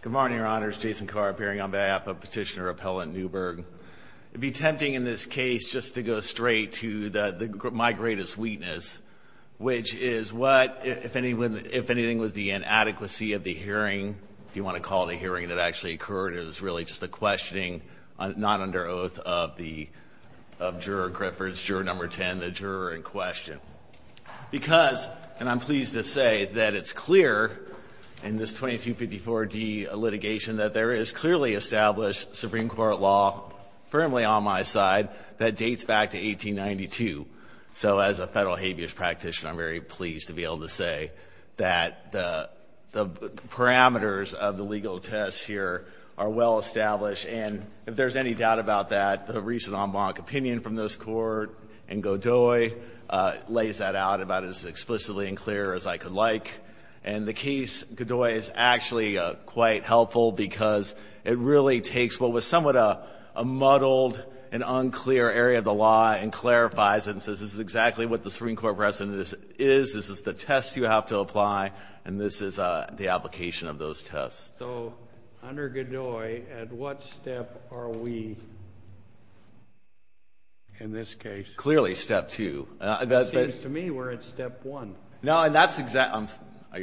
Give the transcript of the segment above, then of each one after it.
Good morning, Your Honors. Jason Carr appearing on behalf of Petitioner Appellant Newberg. It would be tempting in this case just to go straight to my greatest weakness, which is what, if anything, was the inadequacy of the hearing, if you want to call it a hearing that actually occurred, it was really just the questioning, not under oath, of Juror Griffiths, Juror No. 10, the juror in question. Because, and I'm pleased to say that it's clear in this 2254d litigation that there is clearly established Supreme Court law, firmly on my side, that dates back to 1892. So as a federal habeas practitioner, I'm very pleased to be able to say that the parameters of the legal test here are well established. And if there's any doubt about that, the recent en banc opinion from this Court and Godoy lays that out about as explicitly and clear as I could like. And the case, Godoy, is actually quite helpful because it really takes what was somewhat a muddled and unclear area of the law and clarifies and says this is exactly what the Supreme Court precedent is, this is the test you have to apply, and this is the application of those tests. So under Godoy, at what step are we in this case? Clearly step two. It seems to me we're at step one. No, and that's exactly,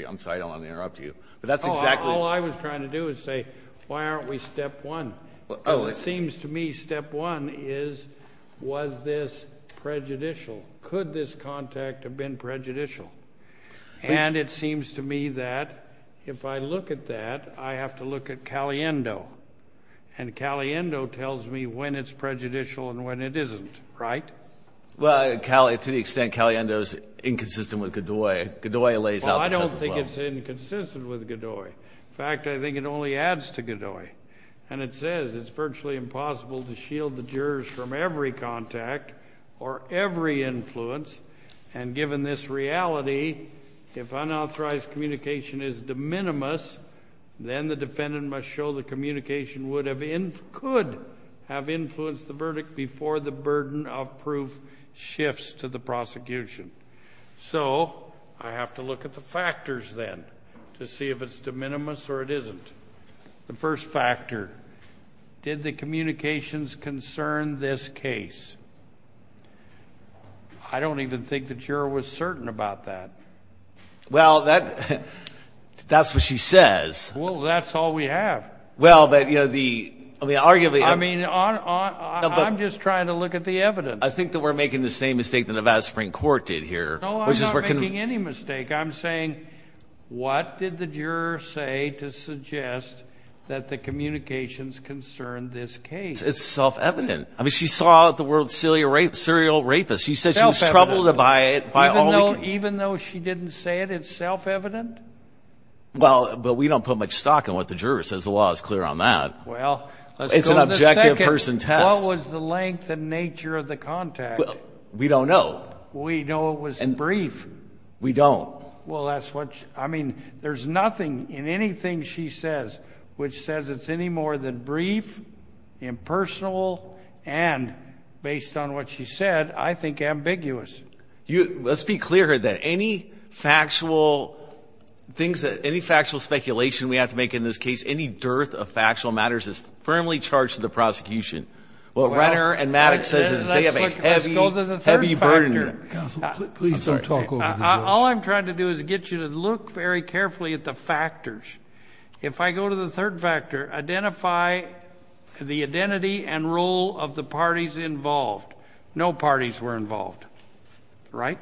I'm sorry, I don't want to interrupt you, but that's exactly. All I was trying to do is say, why aren't we step one? It seems to me step one is, was this prejudicial? Could this contact have been prejudicial? And it seems to me that if I look at that, I have to look at Caliendo. And Caliendo tells me when it's prejudicial and when it isn't, right? Well, to the extent Caliendo is inconsistent with Godoy, Godoy lays out the test as well. Well, I don't think it's inconsistent with Godoy. In fact, I think it only adds to Godoy. And it says it's virtually impossible to shield the jurors from every contact or every influence. And given this reality, if unauthorized communication is de minimis, then the defendant must show the communication could have influenced the verdict before the burden of proof shifts to the prosecution. So I have to look at the factors then to see if it's de minimis or it isn't. The first factor, did the communications concern this case? I don't even think the juror was certain about that. Well, that's what she says. Well, that's all we have. Well, but, you know, the arguably ‑‑ I mean, I'm just trying to look at the evidence. I think that we're making the same mistake that Nevada Supreme Court did here. No, I'm not making any mistake. I'm saying what did the juror say to suggest that the communications concerned this case? It's self‑evident. I mean, she saw the word serial rapist. She said she was troubled by it. Even though she didn't say it, it's self‑evident? Well, but we don't put much stock in what the juror says. The law is clear on that. Well, let's go to the second. It's an objective person test. What was the length and nature of the contact? We don't know. We know it was brief. We don't. Well, that's what ‑‑ I mean, there's nothing in anything she says which says it's any more than brief, impersonal, and, based on what she said, I think ambiguous. Let's be clear here, then. Any factual things that ‑‑ any factual speculation we have to make in this case, any dearth of factual matters is firmly charged to the prosecution. What Renner and Maddox says is they have a heavy burden here. Counsel, please don't talk over this. All I'm trying to do is get you to look very carefully at the factors. If I go to the third factor, identify the identity and role of the parties involved. No parties were involved. Right?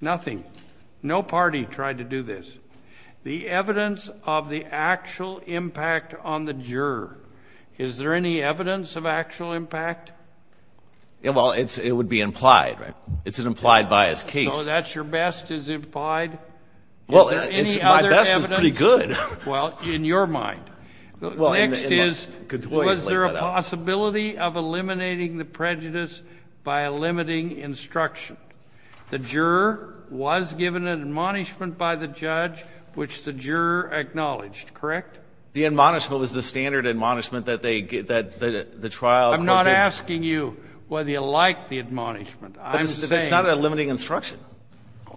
Nothing. No party tried to do this. The evidence of the actual impact on the juror, is there any evidence of actual impact? Well, it would be implied, right? It's an implied bias case. So that's your best, is implied? Well, my best is pretty good. Well, in your mind. Next is, was there a possibility of eliminating the prejudice by eliminating instruction? The juror was given an admonishment by the judge, which the juror acknowledged. Correct? The admonishment was the standard admonishment that they ‑‑ that the trial ‑‑ I'm not asking you whether you like the admonishment. I'm saying ‑‑ It's not a limiting instruction.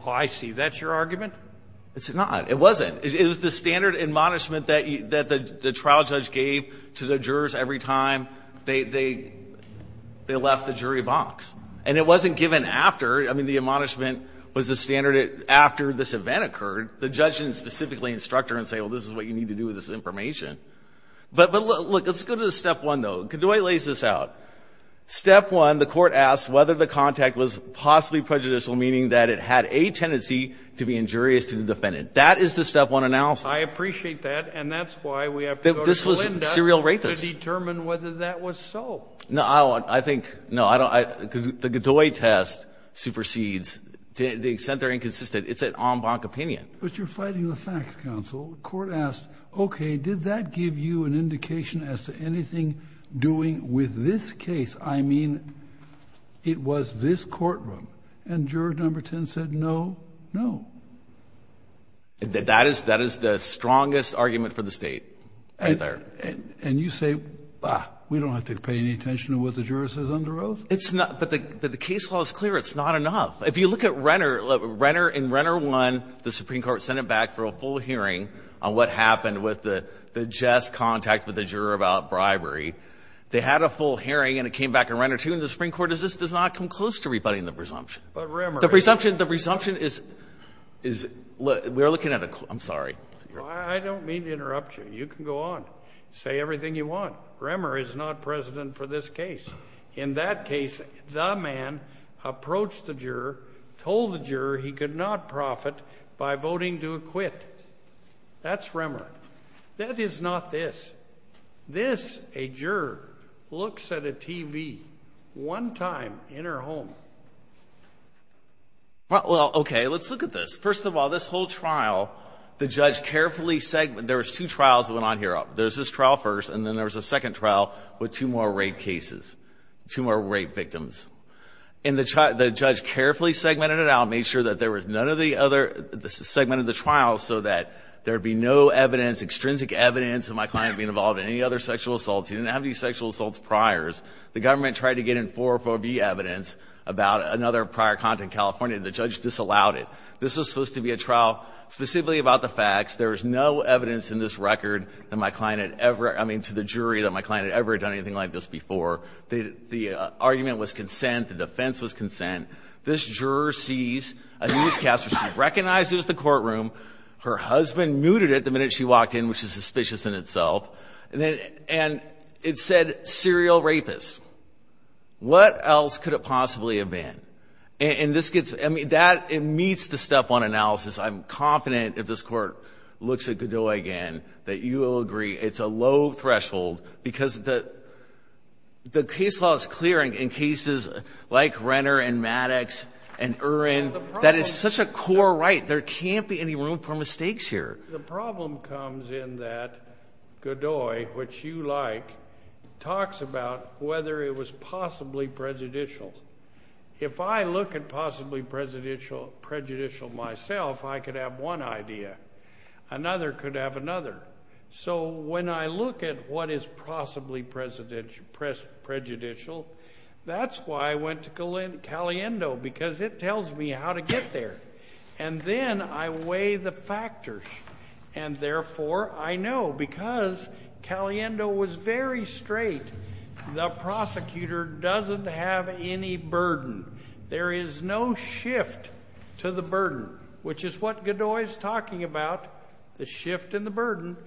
Oh, I see. That's your argument? It's not. It wasn't. It was the standard admonishment that the trial judge gave to the jurors every time they left the jury box. And it wasn't given after. I mean, the admonishment was the standard after this event occurred. The judge didn't specifically instruct her and say, well, this is what you need to do with this information. But, look, let's go to step one, though. Godoy lays this out. Step one, the court asked whether the contact was possibly prejudicial, meaning that it had a tendency to be injurious to the defendant. That is the step one analysis. I appreciate that. And that's why we have to go to Linda to determine whether that was so. No, I think ‑‑ no, I don't ‑‑ the Godoy test supersedes, to the extent they're inconsistent. It's an en banc opinion. But you're fighting the facts, counsel. The court asked, okay, did that give you an indication as to anything doing with this case? I mean, it was this courtroom. And juror number 10 said no, no. That is the strongest argument for the State right there. And you say, ah, we don't have to pay any attention to what the juror says under oath? It's not ‑‑ but the case law is clear. It's not enough. If you look at Renner, in Renner 1, the Supreme Court sent it back for a full hearing on what happened with the just contact with the juror about bribery. They had a full hearing, and it came back in Renner 2, and the Supreme Court says this does not come close to rebutting the presumption. The presumption is ‑‑ we're looking at a ‑‑ I'm sorry. I don't mean to interrupt you. You can go on. Say everything you want. Renner is not president for this case. In that case, the man approached the juror, told the juror he could not profit by voting to acquit. That's Renner. That is not this. This, a juror, looks at a TV one time in her home. Well, okay. Let's look at this. First of all, this whole trial, the judge carefully ‑‑ there was two trials that went on here. There was this trial first, and then there was a second trial with two more rape cases, two more rape victims. And the judge carefully segmented it out, made sure that there was none of the other ‑‑ segmented the trial so that there would be no evidence, extrinsic evidence, of my client being involved in any other sexual assaults. He didn't have any sexual assaults priors. The government tried to get in 404B evidence about another prior content in California, and the judge disallowed it. This was supposed to be a trial specifically about the facts. There was no evidence in this record that my client had ever ‑‑ I mean, to the jury, that my client had ever done anything like this before. The argument was consent. The defense was consent. This juror sees a newscaster. She recognizes the courtroom. Her husband muted it the minute she walked in, which is suspicious in itself. And it said, serial rapist. What else could it possibly have been? And this gets ‑‑ I mean, that ‑‑ it meets the step one analysis. I'm confident if this Court looks at Godoy again that you will agree it's a low threshold because the case law is clear in cases like Renner and Maddox and Urin. That is such a core right. There can't be any room for mistakes here. The problem comes in that Godoy, which you like, talks about whether it was possibly prejudicial. If I look at possibly prejudicial myself, I could have one idea. Another could have another. So when I look at what is possibly prejudicial, that's why I went to Caliendo because it tells me how to get there. And then I weigh the factors. And, therefore, I know because Caliendo was very straight, the prosecutor doesn't have any burden. There is no shift to the burden, which is what Godoy is talking about, the shift and the burden.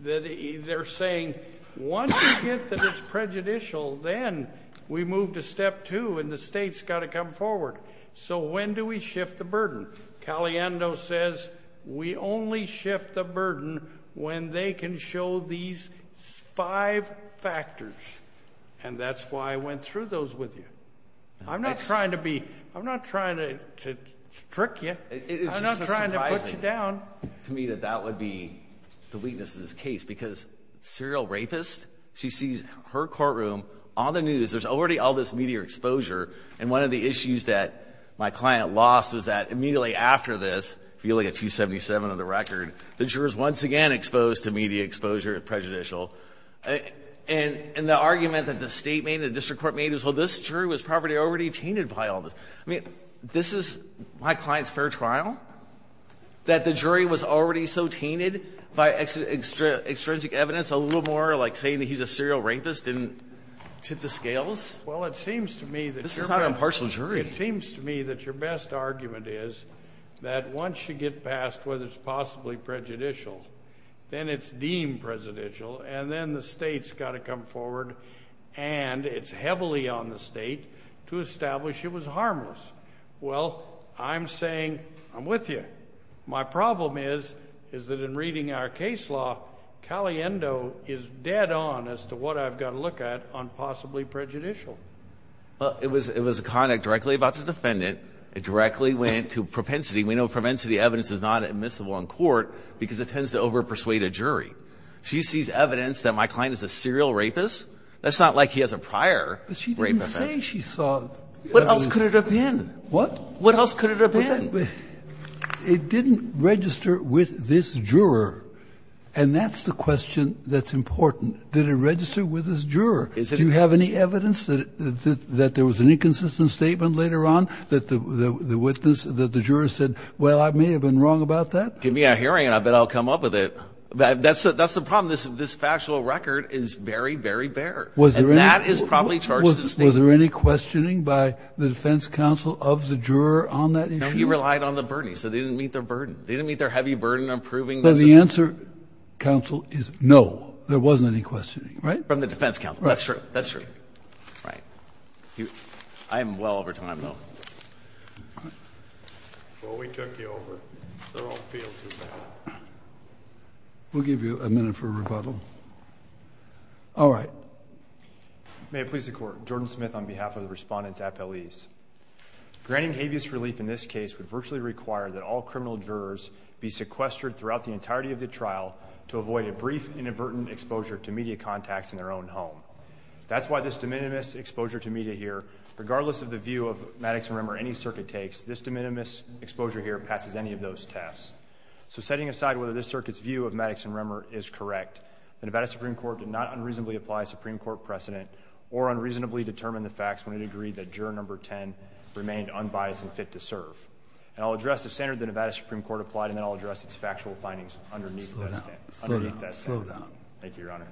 They're saying once you get to this prejudicial, then we move to step two and the state's got to come forward. And Caliendo says we only shift the burden when they can show these five factors. And that's why I went through those with you. I'm not trying to be – I'm not trying to trick you. I'm not trying to put you down. It is surprising to me that that would be the weakness of this case because serial rapist, she sees her courtroom on the news, there's already all this media exposure, and one of the issues that my client lost was that immediately after this, feeling a 277 on the record, the jurors once again exposed to media exposure as prejudicial. And the argument that the State made and the district court made is, well, this jury was probably already tainted by all this. I mean, this is my client's fair trial, that the jury was already so tainted by extrinsic evidence, a little more like saying that he's a serial rapist didn't tip the scales? Well, it seems to me that your best argument is that once you get past whether it's possibly prejudicial, then it's deemed prejudicial, and then the State's got to come forward, and it's heavily on the State to establish it was harmless. Well, I'm saying I'm with you. My problem is, is that in reading our case law, Caliendo is dead on as to what I've got to look at on possibly prejudicial. Well, it was a conduct directly about the defendant. It directly went to propensity. We know propensity evidence is not admissible in court because it tends to overpersuade a jury. She sees evidence that my client is a serial rapist? That's not like he has a prior rape offense. But she didn't say she saw. What else could it have been? What? What else could it have been? It didn't register with this juror, and that's the question that's important. Did it register with this juror? Do you have any evidence that there was an inconsistent statement later on that the witness, that the juror said, well, I may have been wrong about that? Give me a hearing, and I'll bet I'll come up with it. That's the problem. This factual record is very, very bare. And that is probably charged as a statement. Was there any questioning by the defense counsel of the juror on that issue? No, he relied on the burden. He said they didn't meet their burden. They didn't meet their heavy burden of proving that this was true. But the answer, counsel, is no. There wasn't any questioning. Right? From the defense counsel. That's true. That's true. Right. I am well over time, though. Well, we took you over. So don't feel too bad. We'll give you a minute for rebuttal. All right. May it please the Court. Jordan Smith on behalf of the Respondent's appellees. Granting habeas relief in this case would virtually require that all criminal jurors be sequestered throughout the entirety of the trial to avoid a brief inadvertent exposure to media contacts in their own home. That's why this de minimis exposure to media here, regardless of the view of Maddox and Remmer any circuit takes, this de minimis exposure here passes any of those tests. So setting aside whether this circuit's view of Maddox and Remmer is correct, the Nevada Supreme Court did not unreasonably apply a Supreme Court precedent or unreasonably determine the facts when it agreed that juror number 10 remained unbiased and fit to serve. And I'll address the standard the Nevada Supreme Court applied, and then I'll address its factual findings underneath that standard. Slow down. Thank you, Your Honor.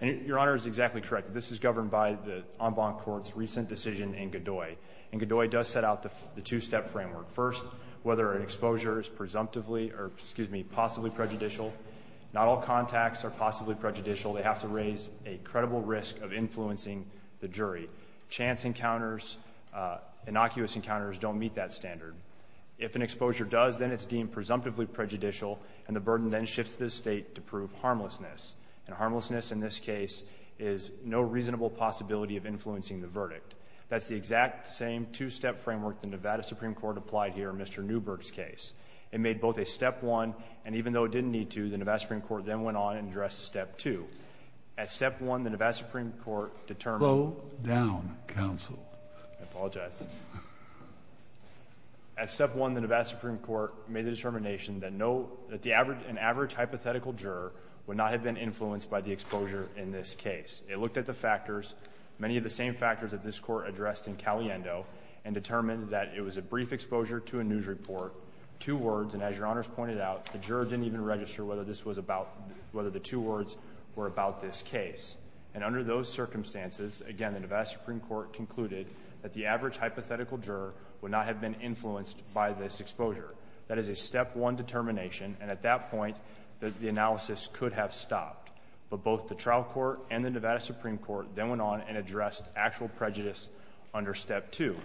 And Your Honor is exactly correct. This is governed by the en banc court's recent decision in Godoy. And Godoy does set out the two-step framework. First, whether an exposure is presumptively or possibly prejudicial. Not all contacts are possibly prejudicial. They have to raise a credible risk of influencing the jury. Chance encounters, innocuous encounters don't meet that standard. If an exposure does, then it's deemed presumptively prejudicial, and the burden then shifts to the state to prove harmlessness. And harmlessness in this case is no reasonable possibility of influencing the verdict. That's the exact same two-step framework the Nevada Supreme Court applied here in Mr. Newberg's case. It made both a step one, and even though it didn't need to, the Nevada Supreme Court then went on and addressed step two. At step one, the Nevada Supreme Court determined Slow down, counsel. I apologize. At step one, the Nevada Supreme Court made the determination that an average hypothetical juror would not have been influenced by the exposure in this case. It looked at the factors, many of the same factors that this court addressed in Caliendo, and determined that it was a brief exposure to a news report, two words, and as your honors pointed out, the juror didn't even register whether the two words were about this case. And under those circumstances, again, the Nevada Supreme Court concluded that the average hypothetical juror would not have been influenced by this exposure. That is a step one determination, and at that point, the analysis could have stopped. But both the trial court and the Nevada Supreme Court then went on and addressed actual prejudice under step two.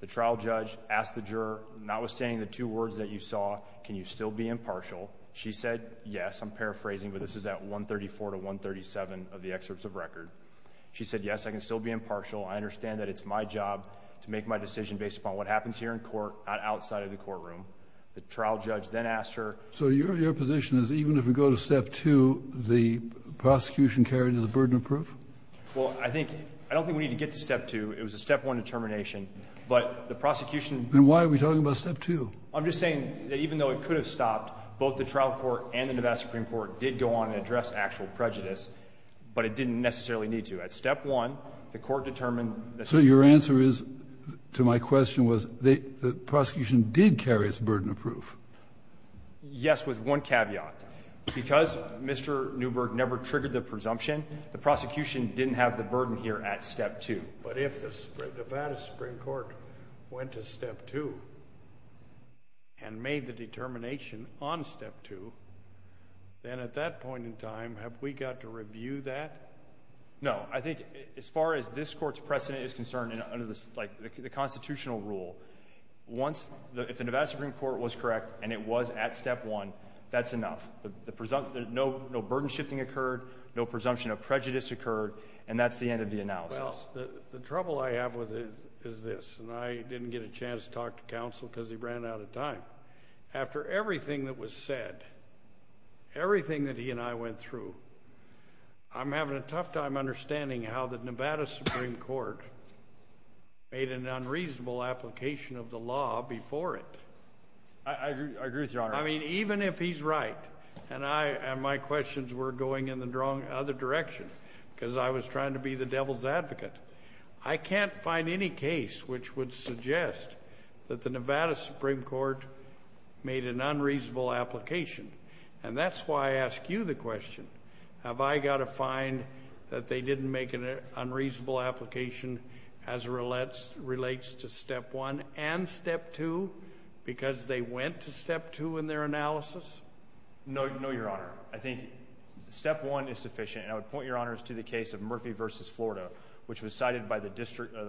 The trial judge asked the juror, notwithstanding the two words that you saw, can you still be impartial? She said yes. I'm paraphrasing, but this is at 134 to 137 of the excerpts of record. She said yes, I can still be impartial. I understand that it's my job to make my decision based upon what happens here in court, not outside of the courtroom. The trial judge then asked her. So your position is even if we go to step two, the prosecution carried as a burden of proof? Well, I don't think we need to get to step two. It was a step one determination. But the prosecution ---- Then why are we talking about step two? I'm just saying that even though it could have stopped, both the trial court and the Nevada Supreme Court did go on and address actual prejudice, but it didn't necessarily need to. At step one, the Court determined that ---- So your answer is, to my question, was the prosecution did carry as a burden of proof? Yes, with one caveat. Because Mr. Newberg never triggered the presumption, the prosecution didn't have the burden here at step two. But if the Nevada Supreme Court went to step two and made the determination on step two, then at that point in time, have we got to review that? No. I think as far as this Court's precedent is concerned under the constitutional rule, if the Nevada Supreme Court was correct and it was at step one, that's enough. No burden shifting occurred. No presumption of prejudice occurred. And that's the end of the analysis. Well, the trouble I have with it is this, and I didn't get a chance to talk to counsel because he ran out of time. After everything that was said, everything that he and I went through, I'm having a tough time understanding how the Nevada Supreme Court made an unreasonable application of the law before it. I agree with you, Your Honor. I mean, even if he's right, and my questions were going in the other direction, because I was trying to be the devil's advocate. I can't find any case which would suggest that the Nevada Supreme Court made an unreasonable application. And that's why I ask you the question, have I got to find that they didn't make an unreasonable application as relates to step one and step two because they went to step two in their analysis? No, Your Honor. I think step one is sufficient. And I would point, Your Honor, to the case of Murphy v. Florida, which was cited by the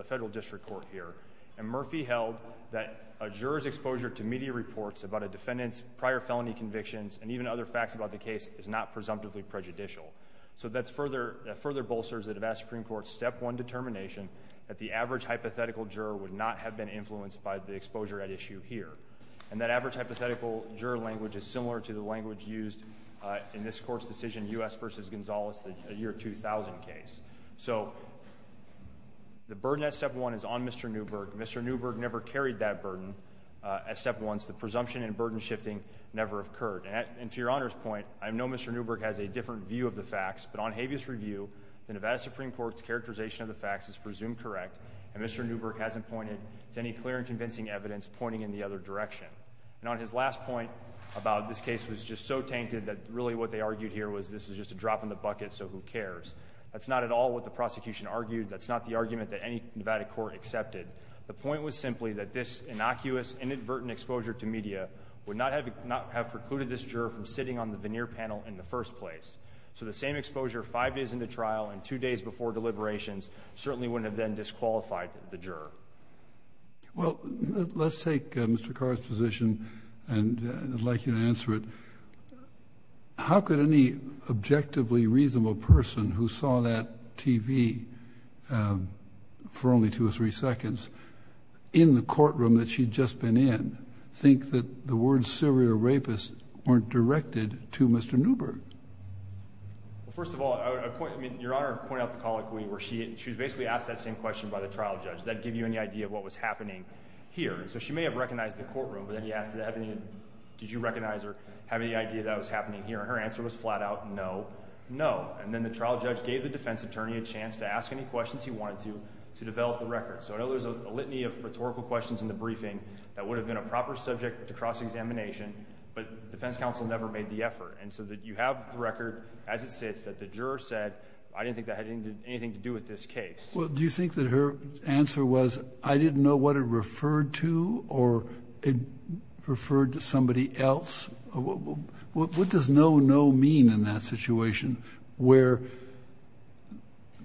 federal district court here. And Murphy held that a juror's exposure to media reports about a defendant's prior felony convictions and even other facts about the case is not presumptively prejudicial. So that further bolsters the Nevada Supreme Court's step one determination that the average hypothetical juror would not have been influenced by the exposure at issue here. And that average hypothetical juror language is similar to the language used in this court's decision, U.S. v. Gonzalez, the year 2000 case. So the burden at step one is on Mr. Newberg. Mr. Newberg never carried that burden at step one. The presumption and burden shifting never occurred. And to Your Honor's point, I know Mr. Newberg has a different view of the facts. But on habeas review, the Nevada Supreme Court's characterization of the facts is presumed correct, and Mr. Newberg hasn't pointed to any clear and convincing evidence pointing in the other direction. And on his last point about this case was just so tainted that really what they argued here was this was just a drop in the bucket, so who cares? That's not at all what the prosecution argued. That's not the argument that any Nevada court accepted. The point was simply that this innocuous, inadvertent exposure to media would not have precluded this juror from sitting on the veneer panel in the first place. So the same exposure five days into trial and two days before deliberations certainly wouldn't have then disqualified the juror. Well, let's take Mr. Carr's position and I'd like you to answer it. How could any objectively reasonable person who saw that TV for only two or three seconds in the courtroom that she'd just been in think that the words serial rapist weren't directed to Mr. Newberg? Well, first of all, Your Honor pointed out the colloquy where she was basically asked that same question by the trial judge. Did that give you any idea of what was happening here? So she may have recognized the courtroom, but then he asked did you recognize or have any idea that was happening here? And her answer was flat out no, no. And then the trial judge gave the defense attorney a chance to ask any questions he wanted to to develop the record. So I know there's a litany of rhetorical questions in the briefing that would have been a proper subject to cross-examination, but defense counsel never made the effort. And so you have the record as it sits that the juror said I didn't think that had anything to do with this case. Well, do you think that her answer was I didn't know what it referred to or it referred to somebody else? What does no, no mean in that situation where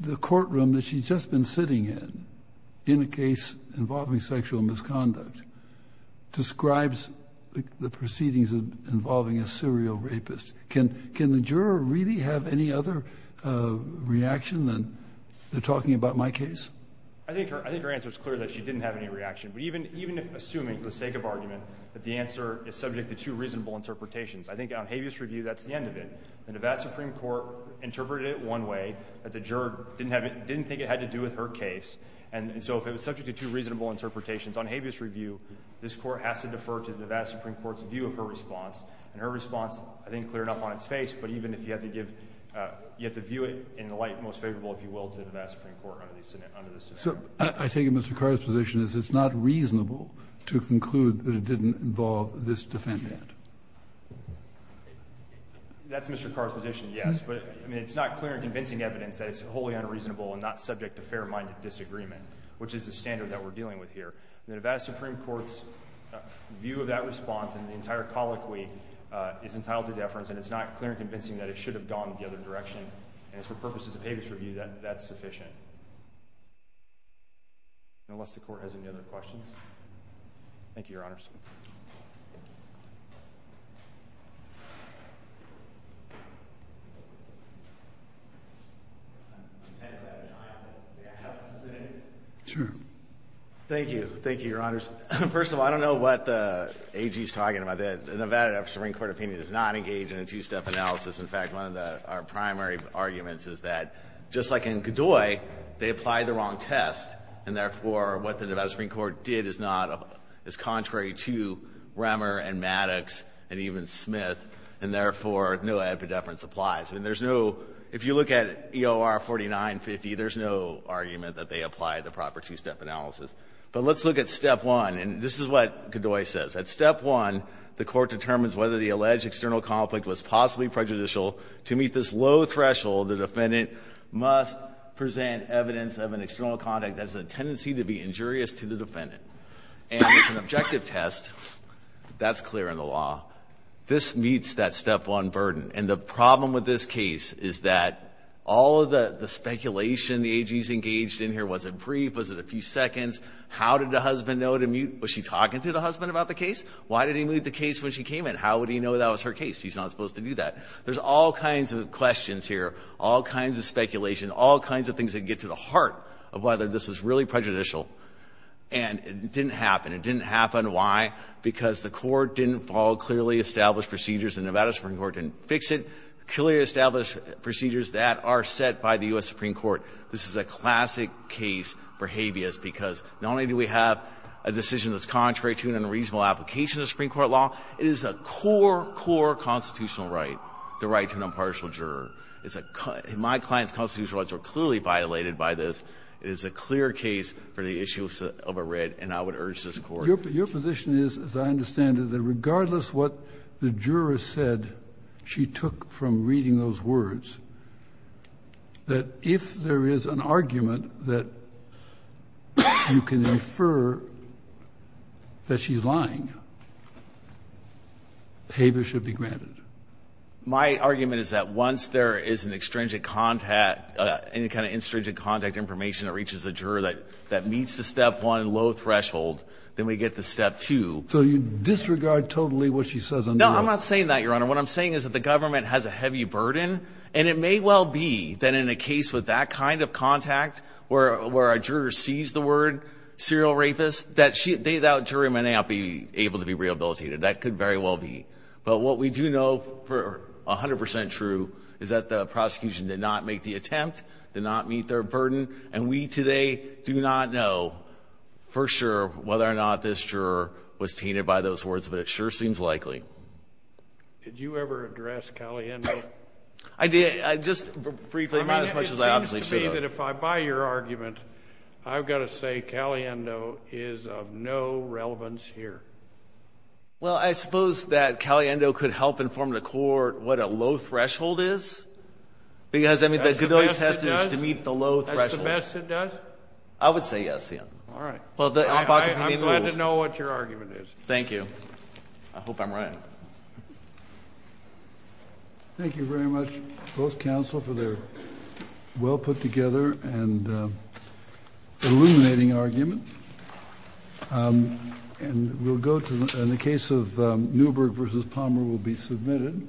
the courtroom that she's just been sitting in, in a case involving sexual misconduct, describes the proceedings involving a serial rapist? Can the juror really have any other reaction than they're talking about my case? I think her answer is clear that she didn't have any reaction. But even assuming for the sake of argument that the answer is subject to two reasonable interpretations, I think on habeas review that's the end of it. The Nevada Supreme Court interpreted it one way, that the juror didn't think it had to do with her case. And so if it was subject to two reasonable interpretations on habeas review, this court has to defer to the Nevada Supreme Court's view of her response. And her response, I think, clear enough on its face. But even if you have to give, you have to view it in the light most favorable, if you will, to the Nevada Supreme Court under this affair. So I take it Mr. Carr's position is it's not reasonable to conclude that it didn't involve this defendant? That's Mr. Carr's position, yes. But, I mean, it's not clear and convincing evidence that it's wholly unreasonable and not subject to fair-minded disagreement, which is the standard that we're dealing with here. The Nevada Supreme Court's view of that response and the entire colloquy is entitled to deference. And it's not clear and convincing that it should have gone the other direction. And it's for purposes of habeas review that that's sufficient. Unless the Court has any other questions. Thank you, Your Honors. Thank you. Thank you, Your Honors. First of all, I don't know what the AG is talking about. The Nevada Supreme Court opinion is not engaged in a two-step analysis. In fact, one of our primary arguments is that just like in Godoy, they applied the wrong test. And therefore, what the Nevada Supreme Court did is not as contrary to Remmer and Maddox and even Smith. And therefore, no affidavit of deference applies. I mean, there's no – if you look at EOR 4950, there's no argument that they applied the proper two-step analysis. But let's look at step one. And this is what Godoy says. At step one, the Court determines whether the alleged external conflict was possibly To meet this low threshold, the defendant must present evidence of an external conflict that has a tendency to be injurious to the defendant. And it's an objective test. That's clear in the law. This meets that step one burden. And the problem with this case is that all of the speculation the AG's engaged in here, was it brief? Was it a few seconds? How did the husband know to mute? Was she talking to the husband about the case? Why did he mute the case when she came in? How would he know that was her case? She's not supposed to do that. There's all kinds of questions here, all kinds of speculation, all kinds of things that get to the heart of whether this is really prejudicial. And it didn't happen. It didn't happen. Why? Because the Court didn't follow clearly established procedures. The Nevada Supreme Court didn't fix it. Clearly established procedures that are set by the U.S. Supreme Court. This is a classic case for habeas because not only do we have a decision that's contrary to an unreasonable application of the Supreme Court law, it is a core, core constitutional right, the right to an impartial juror. It's a core. My client's constitutional rights are clearly violated by this. It is a clear case for the issue of a writ, and I would urge this Court. Kennedy, your position is, as I understand it, that regardless what the juror said she took from reading those words, that if there is an argument that you can infer that she's lying, habeas should be granted. My argument is that once there is an extrinsic contact, any kind of extrinsic contact information that reaches a juror that meets the step one low threshold, then we get to step two. So you disregard totally what she says under that? No, I'm not saying that, Your Honor. What I'm saying is that the government has a heavy burden, and it may well be that in a case with that kind of contact where a juror sees the word serial rapist, that jury may not be able to be rehabilitated. That could very well be. But what we do know for 100 percent true is that the prosecution did not make the attempt, did not meet their burden, and we today do not know for sure whether or not this juror was tainted by those words, but it sure seems likely. Did you ever address Caliendo? I did. Just briefly. I mean, it seems to me that if I buy your argument, I've got to say Caliendo is of no relevance here. Well, I suppose that Caliendo could help inform the Court what a low threshold is, because, I mean, the good old test is to meet the low threshold. That's the best it does? I would say yes, Your Honor. All right. I'm glad to know what your argument is. Thank you. I hope I'm right. Thank you very much, both counsel, for the well-put-together and illuminating argument. And we'll go to the case of Newberg v. Palmer will be submitted.